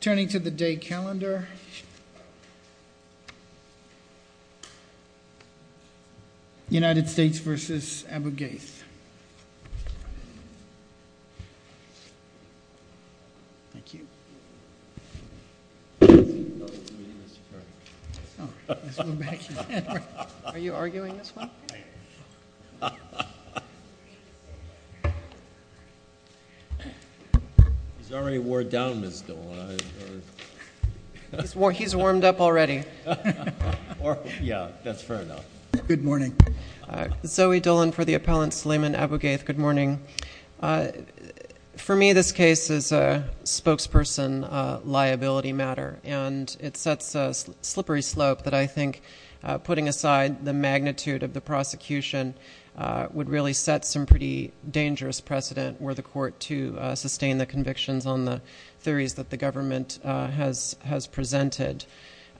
Turning to the day calendar, United States v. Abu Ghraib. Thank you. Are you arguing this one? He's warmed up already. Yeah, that's fair enough. Good morning. Zoe Dillon for the appellant, Suleiman Abu Ghraib. Good morning. For me, this case is a spokesperson liability matter, and it sets a slippery slope that I think, putting aside the magnitude of the prosecution, would really set some pretty dangerous precedent were the court to sustain the convictions on the theories that the government has presented.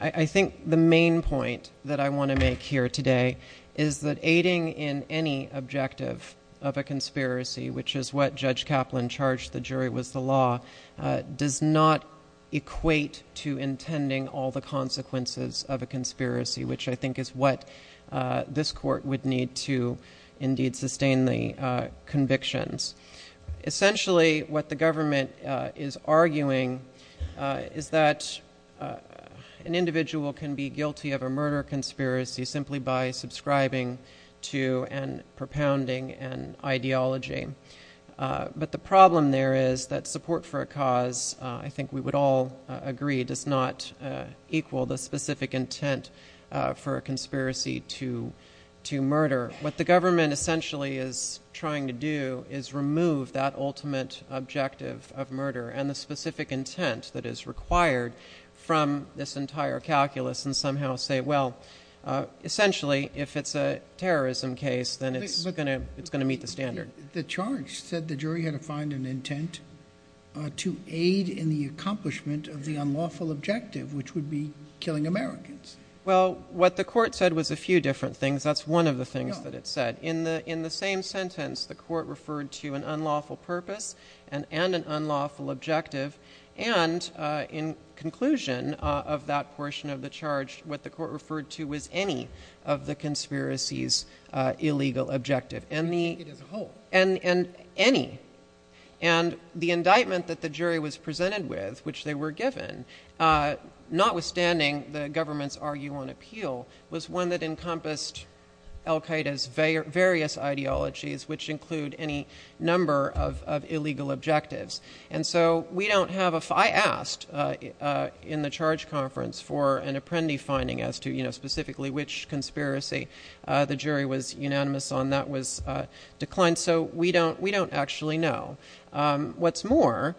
I think the main point that I want to make here today is that aiding in any objective of a conspiracy, which is what Judge Kaplan charged the jury was the law, does not equate to intending all the consequences of a conspiracy, which I think is what this court would need to indeed sustain the convictions. Essentially, what the government is arguing is that an individual can be guilty of a murder conspiracy simply by subscribing to and propounding an ideology. But the problem there is that support for a cause, I think we would all agree, does not equal the specific intent for a conspiracy to murder. What the government essentially is trying to do is remove that ultimate objective of murder and the specific intent that is required from this entire calculus and somehow say, well, essentially, if it's a terrorism case, then it's going to meet the standard. The charge said the jury had to find an intent to aid in the accomplishment of the unlawful objective, which would be killing Americans. Well, what the court said was a few different things. That's one of the things that it said. In the same sentence, the court referred to an unlawful purpose and an unlawful objective, and in conclusion of that portion of the charge, what the court referred to was any of the conspiracy's illegal objective. And any. And the indictment that the jury was presented with, which they were given, notwithstanding the government's argue on appeal, was one that encompassed Al-Qaeda's various ideologies, which include any number of illegal objectives. And so we don't have a – I asked in the charge conference for an apprendee finding as to, you know, specifically which conspiracy the jury was unanimous on. That was declined. So we don't actually know. What's more,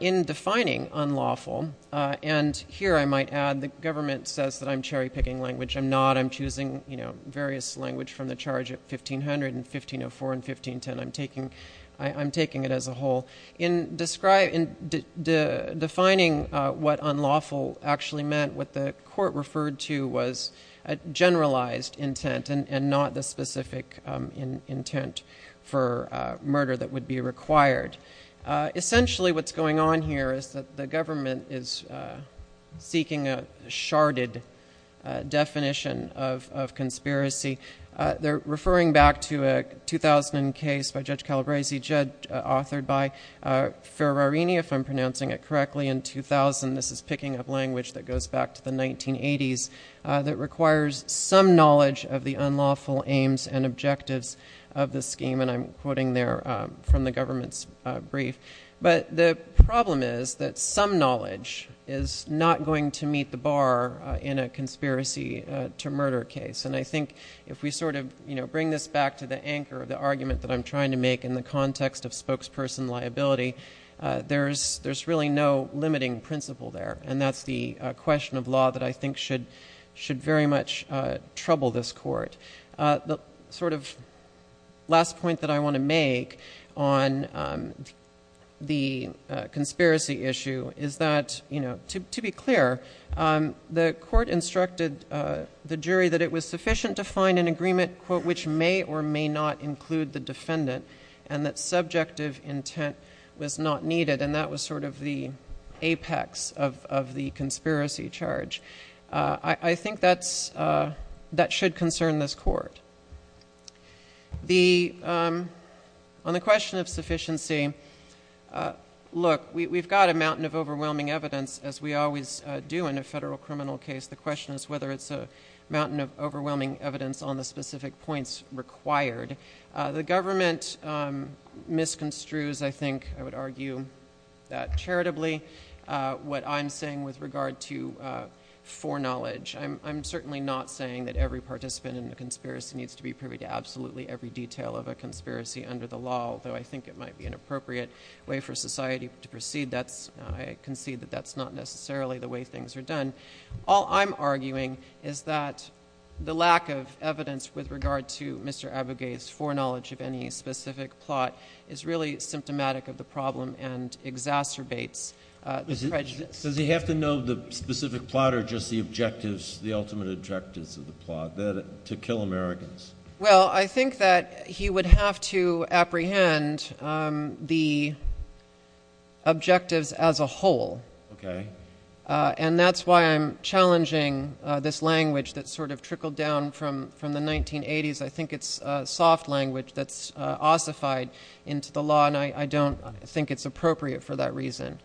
in defining unlawful, and here I might add the government says that I'm cherry-picking language. I'm not. I'm choosing, you know, various language from the charge at 1500 and 1504 and 1510. I'm taking it as a whole. In defining what unlawful actually meant, what the court referred to was a generalized intent and not the specific intent for murder that would be required. Essentially what's going on here is that the government is seeking a sharded definition of conspiracy. They're referring back to a 2000 case by Judge Calabresi, judge authored by Ferrarini, if I'm pronouncing it correctly, in 2000. This is picking up language that goes back to the 1980s that requires some knowledge of the unlawful aims and objectives of the scheme, and I'm quoting there from the government's brief. But the problem is that some knowledge is not going to meet the bar in a conspiracy-to-murder case. And I think if we sort of, you know, bring this back to the anchor of the argument that I'm trying to make in the context of spokesperson liability, there's really no limiting principle there, and that's the question of law that I think should very much trouble this court. The sort of last point that I want to make on the conspiracy issue is that, you know, to be clear, the court instructed the jury that it was sufficient to find an agreement which may or may not include the defendant and that subjective intent was not needed, and that was sort of the apex of the conspiracy charge. I think that should concern this court. On the question of sufficiency, look, we've got a mountain of overwhelming evidence, as we always do in a federal criminal case. The question is whether it's a mountain of overwhelming evidence on the specific points required. The government misconstrues, I think I would argue that charitably, what I'm saying with regard to foreknowledge. I'm certainly not saying that every participant in the conspiracy needs to be privy to absolutely every detail of a conspiracy under the law, although I think it might be an appropriate way for society to proceed. I concede that that's not necessarily the way things are done. All I'm arguing is that the lack of evidence with regard to Mr. Abugay's foreknowledge of any specific plot is really symptomatic of the problem and exacerbates the prejudice. Does he have to know the specific plot or just the objectives, the ultimate objectives of the plot to kill Americans? Well, I think that he would have to apprehend the objectives as a whole. Okay. And that's why I'm challenging this language that sort of trickled down from the 1980s. I think it's soft language that's ossified into the law, and I don't think it's appropriate for that reason.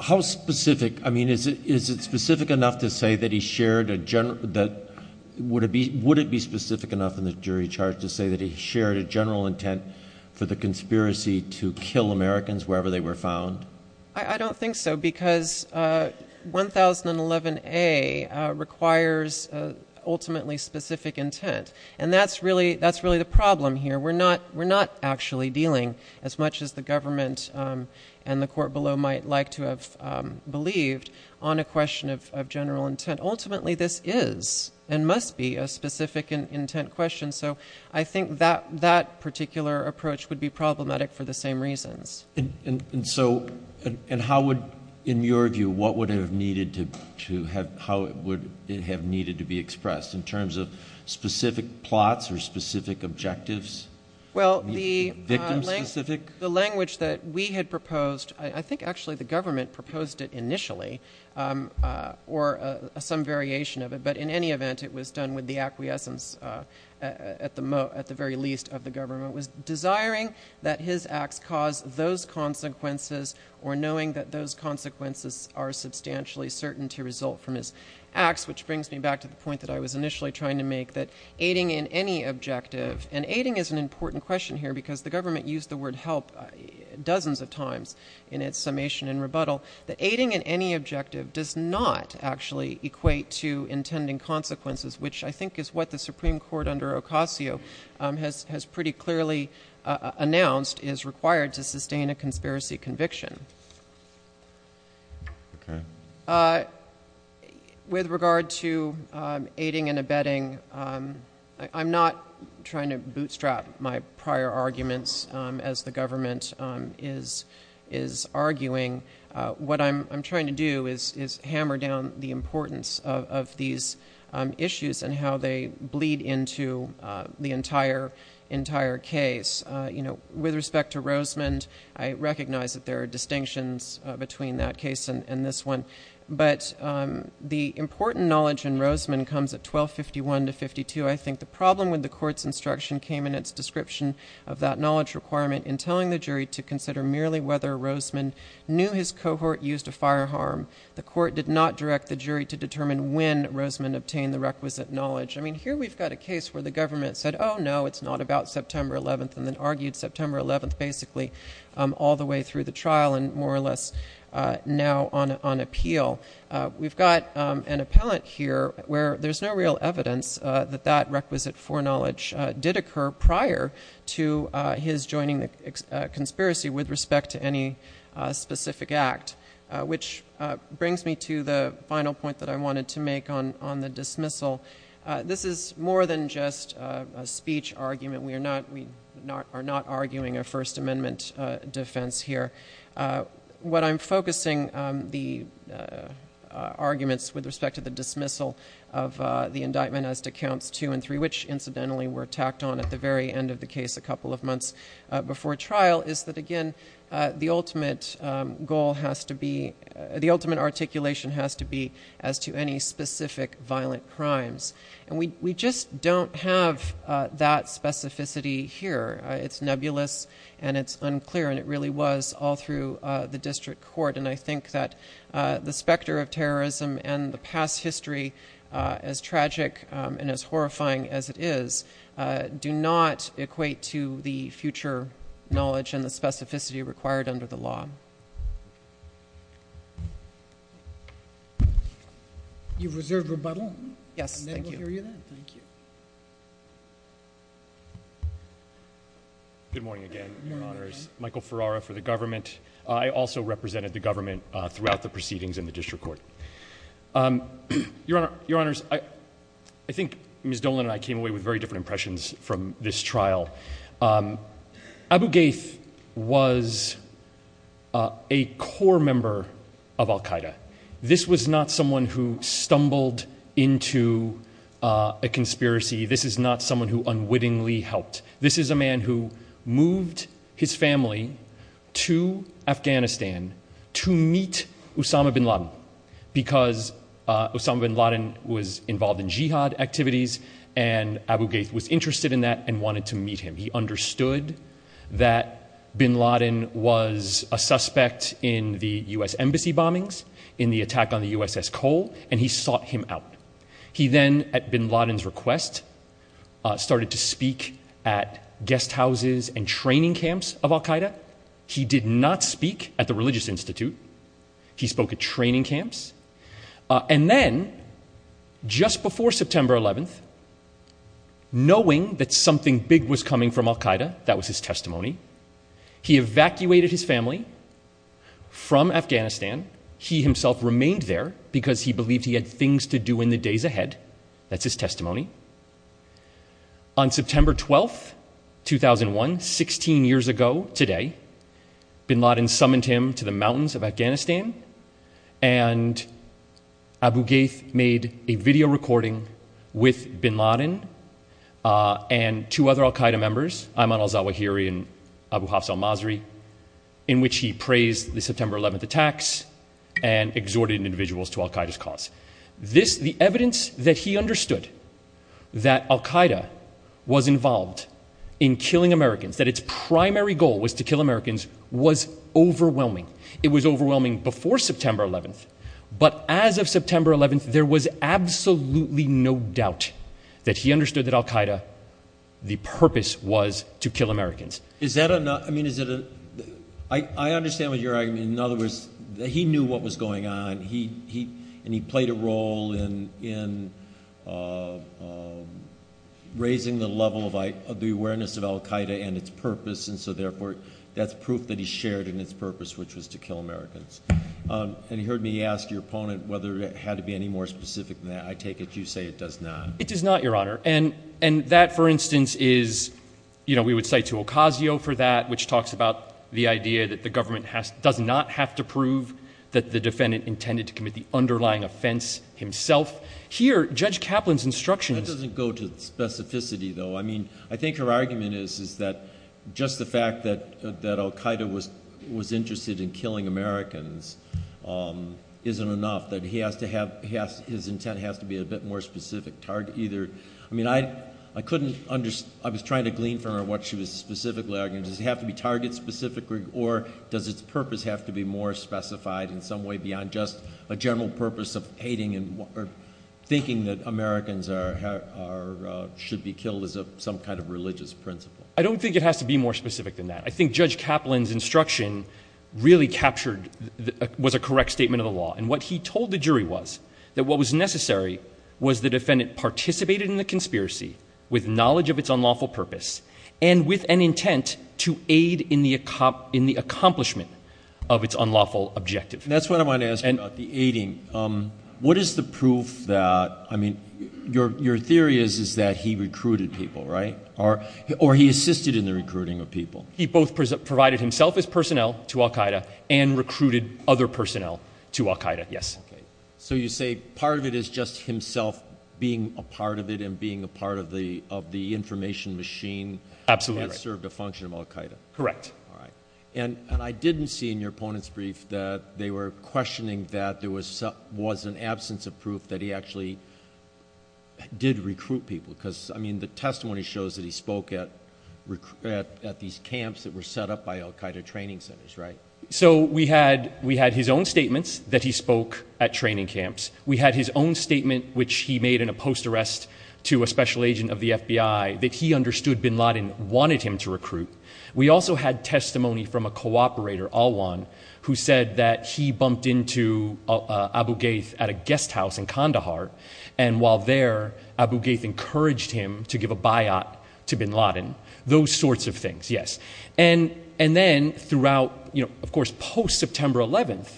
How specific? I mean, is it specific enough to say that he shared a general – would it be specific enough in the jury charge to say that he shared a general intent for the conspiracy to kill Americans wherever they were found? I don't think so, because 1011A requires ultimately specific intent, and that's really the problem here. We're not actually dealing, as much as the government and the court below might like to have believed, on a question of general intent. Ultimately, this is and must be a specific intent question, so I think that particular approach would be problematic for the same reasons. And so – and how would – in your view, what would have needed to – how would it have needed to be expressed in terms of specific plots or specific objectives, victim-specific? Well, the language that we had proposed – I think, actually, the government proposed it initially, or some variation of it, but in any event, it was done with the acquiescence, at the very least, of the government. It was desiring that his acts cause those consequences or knowing that those consequences are substantially certain to result from his acts, which brings me back to the point that I was initially trying to make, that aiding in any objective – and aiding is an important question here, because the government used the word help dozens of times in its summation and rebuttal – that aiding in any objective does not actually equate to intending consequences, which I think is what the Supreme Court under Ocasio has pretty clearly announced is required to sustain a conspiracy conviction. With regard to aiding and abetting, I'm not trying to bootstrap my prior arguments as the government is arguing. What I'm trying to do is hammer down the importance of these issues and how they bleed into the entire case. With respect to Rosemond, I recognize that there are distinctions between that case and this one, but the important knowledge in Rosemond comes at 1251 to 1252. I think the problem with the Court's instruction came in its description of that knowledge requirement in telling the jury to consider merely whether Rosemond knew his cohort used a firearm. The Court did not direct the jury to determine when Rosemond obtained the requisite knowledge. Here we've got a case where the government said, oh, no, it's not about September 11th, and then argued September 11th basically all the way through the trial and more or less now on appeal. We've got an appellant here where there's no real evidence that that requisite foreknowledge did occur prior to his joining the conspiracy with respect to any specific act, which brings me to the final point that I wanted to make on the dismissal. This is more than just a speech argument. We are not arguing a First Amendment defense here. What I'm focusing the arguments with respect to the dismissal of the indictment as to Counts 2 and 3, which incidentally were tacked on at the very end of the case a couple of months before trial, is that, again, the ultimate goal has to be, the ultimate articulation has to be as to any specific violent crimes. And we just don't have that specificity here. It's nebulous and it's unclear, and it really was all through the district court. And I think that the specter of terrorism and the past history, as tragic and as horrifying as it is, do not equate to the future knowledge and the specificity required under the law. You've reserved rebuttal. Yes, thank you. And then we'll hear you then. Thank you. Good morning again, Your Honors. Michael Ferrara for the government. I also represented the government throughout the proceedings in the district court. Your Honors, I think Ms. Dolan and I came away with very different impressions from this trial. Abu Ghaith was a core member of Al-Qaeda. This was not someone who stumbled into a conspiracy. This is not someone who unwittingly helped. This is a man who moved his family to Afghanistan to meet Osama bin Laden because Osama bin Laden was involved in jihad activities, and Abu Ghaith was interested in that and wanted to meet him. He understood that bin Laden was a suspect in the U.S. embassy bombings, in the attack on the USS Cole, and he sought him out. He then, at bin Laden's request, started to speak at guest houses and training camps of Al-Qaeda. He did not speak at the religious institute. He spoke at training camps. And then, just before September 11th, knowing that something big was coming from Al-Qaeda, that was his testimony, he evacuated his family from Afghanistan. He himself remained there because he believed he had things to do in the days ahead. That's his testimony. On September 12th, 2001, 16 years ago today, bin Laden summoned him to the mountains of Afghanistan, and Abu Ghaith made a video recording with bin Laden and two other Al-Qaeda members, Ayman al-Zawahiri and Abu Hafs al-Masri, in which he praised the September 11th attacks and exhorted individuals to Al-Qaeda's cause. The evidence that he understood that Al-Qaeda was involved in killing Americans, that its primary goal was to kill Americans, was overwhelming. It was overwhelming before September 11th, but as of September 11th, there was absolutely no doubt that he understood that Al-Qaeda, the purpose was to kill Americans. I understand what you're arguing. In other words, he knew what was going on, and he played a role in raising the level of the awareness of Al-Qaeda and its purpose, and so, therefore, that's proof that he shared in its purpose, which was to kill Americans. And he heard me ask your opponent whether it had to be any more specific than that. I take it you say it does not. It does not, Your Honor, and that, for instance, is, you know, we would cite to Ocasio for that, which talks about the idea that the government does not have to prove that the defendant intended to commit the underlying offense himself. Here, Judge Kaplan's instructions— That doesn't go to specificity, though. I mean, I think her argument is that just the fact that Al-Qaeda was interested in killing Americans isn't enough, that he has to have—his intent has to be a bit more specific either. I mean, I couldn't—I was trying to glean from her what she was specifically arguing. Does it have to be target-specific, or does its purpose have to be more specified in some way beyond just a general purpose of hating or thinking that Americans should be killed as some kind of religious principle? I don't think it has to be more specific than that. I think Judge Kaplan's instruction really captured—was a correct statement of the law. And what he told the jury was that what was necessary was the defendant participated in the conspiracy with knowledge of its unlawful purpose and with an intent to aid in the accomplishment of its unlawful objective. That's what I want to ask about, the aiding. What is the proof that—I mean, your theory is that he recruited people, right? Or he assisted in the recruiting of people? He both provided himself as personnel to Al-Qaeda and recruited other personnel to Al-Qaeda, yes. So you say part of it is just himself being a part of it and being a part of the information machine that served a function of Al-Qaeda. Correct. All right. And I didn't see in your opponent's brief that they were questioning that there was an absence of proof that he actually did recruit people, because, I mean, the testimony shows that he spoke at these camps that were set up by Al-Qaeda training centers, right? So we had his own statements that he spoke at training camps. We had his own statement, which he made in a post-arrest to a special agent of the FBI, that he understood bin Laden wanted him to recruit. We also had testimony from a cooperator, Al-Wan, who said that he bumped into Abu Ghaith at a guest house in Kandahar, and while there, Abu Ghaith encouraged him to give a biot to bin Laden, those sorts of things, yes. And then throughout, of course, post-September 11th,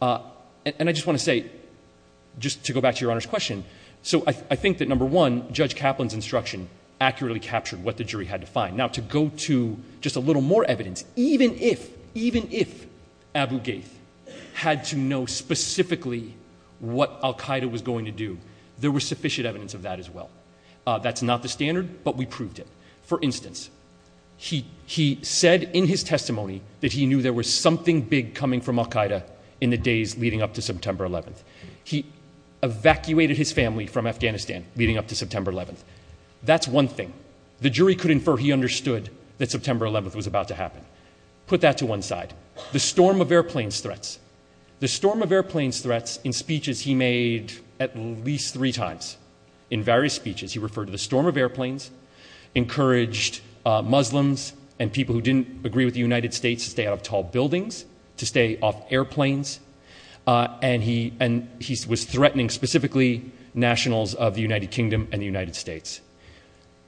and I just want to say, just to go back to Your Honor's question, so I think that, number one, Judge Kaplan's instruction accurately captured what the jury had to find. Now, to go to just a little more evidence, even if Abu Ghaith had to know specifically what Al-Qaeda was going to do, there was sufficient evidence of that as well. That's not the standard, but we proved it. For instance, he said in his testimony that he knew there was something big coming from Al-Qaeda in the days leading up to September 11th. He evacuated his family from Afghanistan leading up to September 11th. That's one thing. The jury could infer he understood that September 11th was about to happen. Put that to one side. The storm of airplanes threats. The storm of airplanes threats in speeches he made at least three times, in various speeches, he referred to the storm of airplanes, encouraged Muslims and people who didn't agree with the United States to stay out of tall buildings, to stay off airplanes, and he was threatening specifically nationals of the United Kingdom and the United States.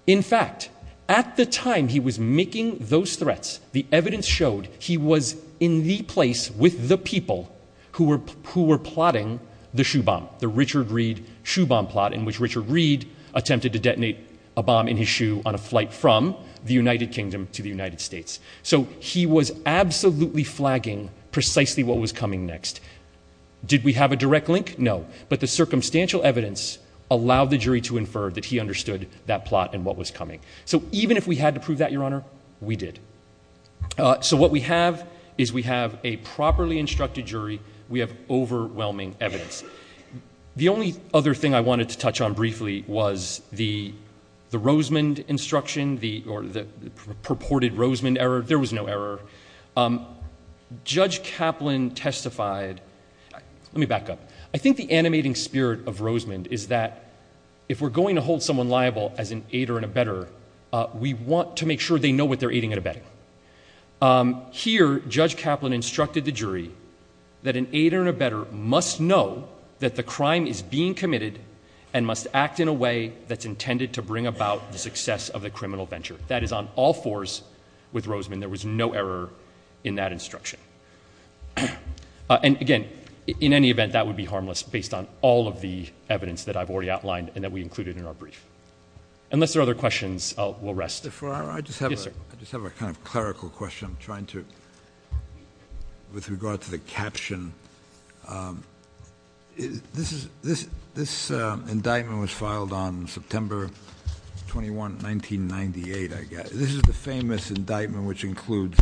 In fact, at the time he was making those threats, the evidence showed he was in the place with the people who were plotting the shoe bomb, the Richard Reed shoe bomb plot in which Richard Reed attempted to detonate a bomb in his shoe on a flight from the United Kingdom to the United States. So he was absolutely flagging precisely what was coming next. Did we have a direct link? No. But the circumstantial evidence allowed the jury to infer that he understood that plot and what was coming. So even if we had to prove that, Your Honor, we did. So what we have is we have a properly instructed jury. We have overwhelming evidence. The only other thing I wanted to touch on briefly was the Rosemond instruction or the purported Rosemond error. There was no error. Judge Kaplan testified. Let me back up. I think the animating spirit of Rosemond is that if we're going to hold someone liable as an aider and abetter, we want to make sure they know what they're aiding and abetting. Here, Judge Kaplan instructed the jury that an aider and abetter must know that the crime is being committed and must act in a way that's intended to bring about the success of the criminal venture. That is on all fours with Rosemond. There was no error in that instruction. And, again, in any event, that would be harmless based on all of the evidence that I've already outlined and that we included in our brief. Unless there are other questions, we'll rest. Mr. Farrar, I just have a kind of clerical question. I'm trying to, with regard to the caption, this indictment was filed on September 21, 1998, I guess. This is the famous indictment which includes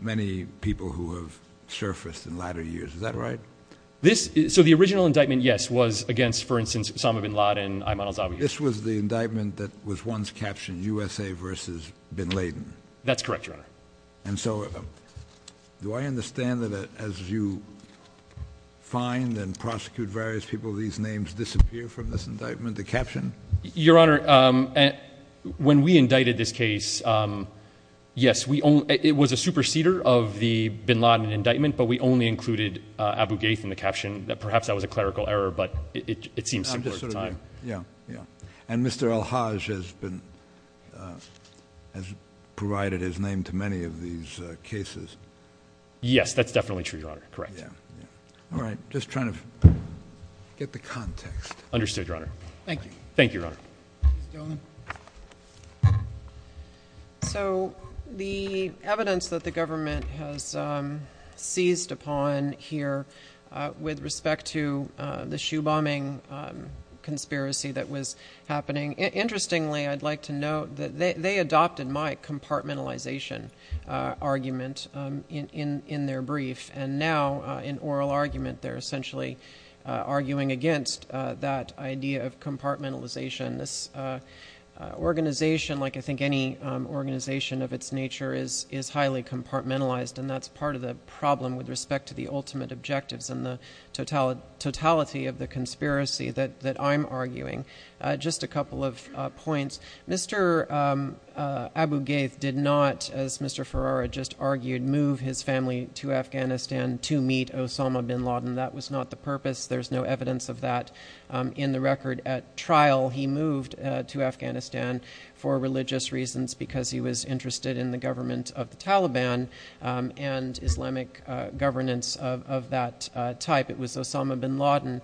many people who have surfaced in latter years. Is that right? So the original indictment, yes, was against, for instance, Osama bin Laden, Ayman al-Zawiyah. This was the indictment that was once captioned, USA versus bin Laden. That's correct, Your Honor. And so do I understand that as you find and prosecute various people, these names disappear from this indictment, the caption? Your Honor, when we indicted this case, yes, it was a superseder of the bin Laden indictment, but we only included Abu Ghaith in the caption. Perhaps that was a clerical error, but it seems similar at the time. Yeah, yeah, yeah. And Mr. al-Haj has provided his name to many of these cases. Yes, that's definitely true, Your Honor. Correct. All right. Just trying to get the context. Thank you. Thank you, Your Honor. Please, Joan. So the evidence that the government has seized upon here with respect to the shoe bombing conspiracy that was happening, interestingly, I'd like to note that they adopted my compartmentalization argument in their brief, and now in oral argument they're essentially arguing against that idea of compartmentalization. This organization, like I think any organization of its nature, is highly compartmentalized, and that's part of the problem with respect to the ultimate objectives and the totality of the conspiracy that I'm arguing. Just a couple of points. Mr. Abu Ghaith did not, as Mr. Ferrara just argued, move his family to Afghanistan to meet Osama bin Laden. That was not the purpose. There's no evidence of that in the record at trial. He moved to Afghanistan for religious reasons because he was interested in the government of the Taliban and Islamic governance of that type. It was Osama bin Laden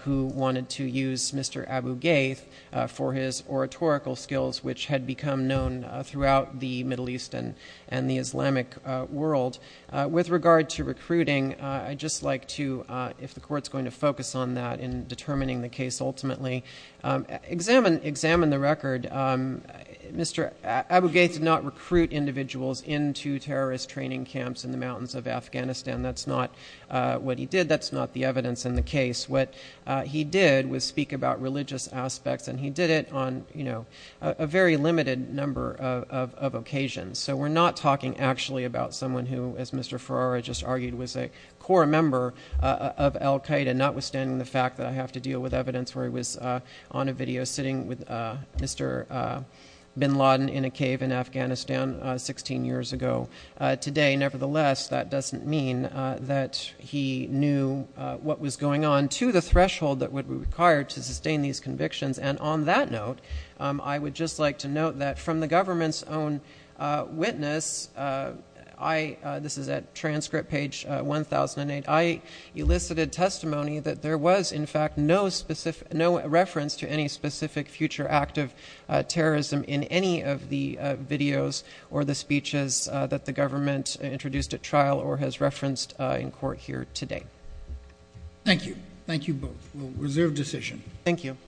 who wanted to use Mr. Abu Ghaith for his oratorical skills, which had become known throughout the Middle East and the Islamic world. With regard to recruiting, I'd just like to, if the Court's going to focus on that in determining the case ultimately, examine the record. Mr. Abu Ghaith did not recruit individuals into terrorist training camps in the mountains of Afghanistan. That's not what he did. That's not the evidence in the case. What he did was speak about religious aspects, and he did it on a very limited number of occasions. So we're not talking actually about someone who, as Mr. Ferrara just argued, was a core member of al-Qaeda, notwithstanding the fact that I have to deal with evidence where he was on a video sitting with Mr. bin Laden in a cave in Afghanistan 16 years ago. Today, nevertheless, that doesn't mean that he knew what was going on to the threshold that would be required to sustain these convictions. And on that note, I would just like to note that from the government's own witness, this is at transcript page 1008, I elicited testimony that there was in fact no reference to any specific future act of terrorism in any of the videos or the speeches that the government introduced at trial or has referenced in court here today. Thank you. Thank you both. Reserve decision. Thank you.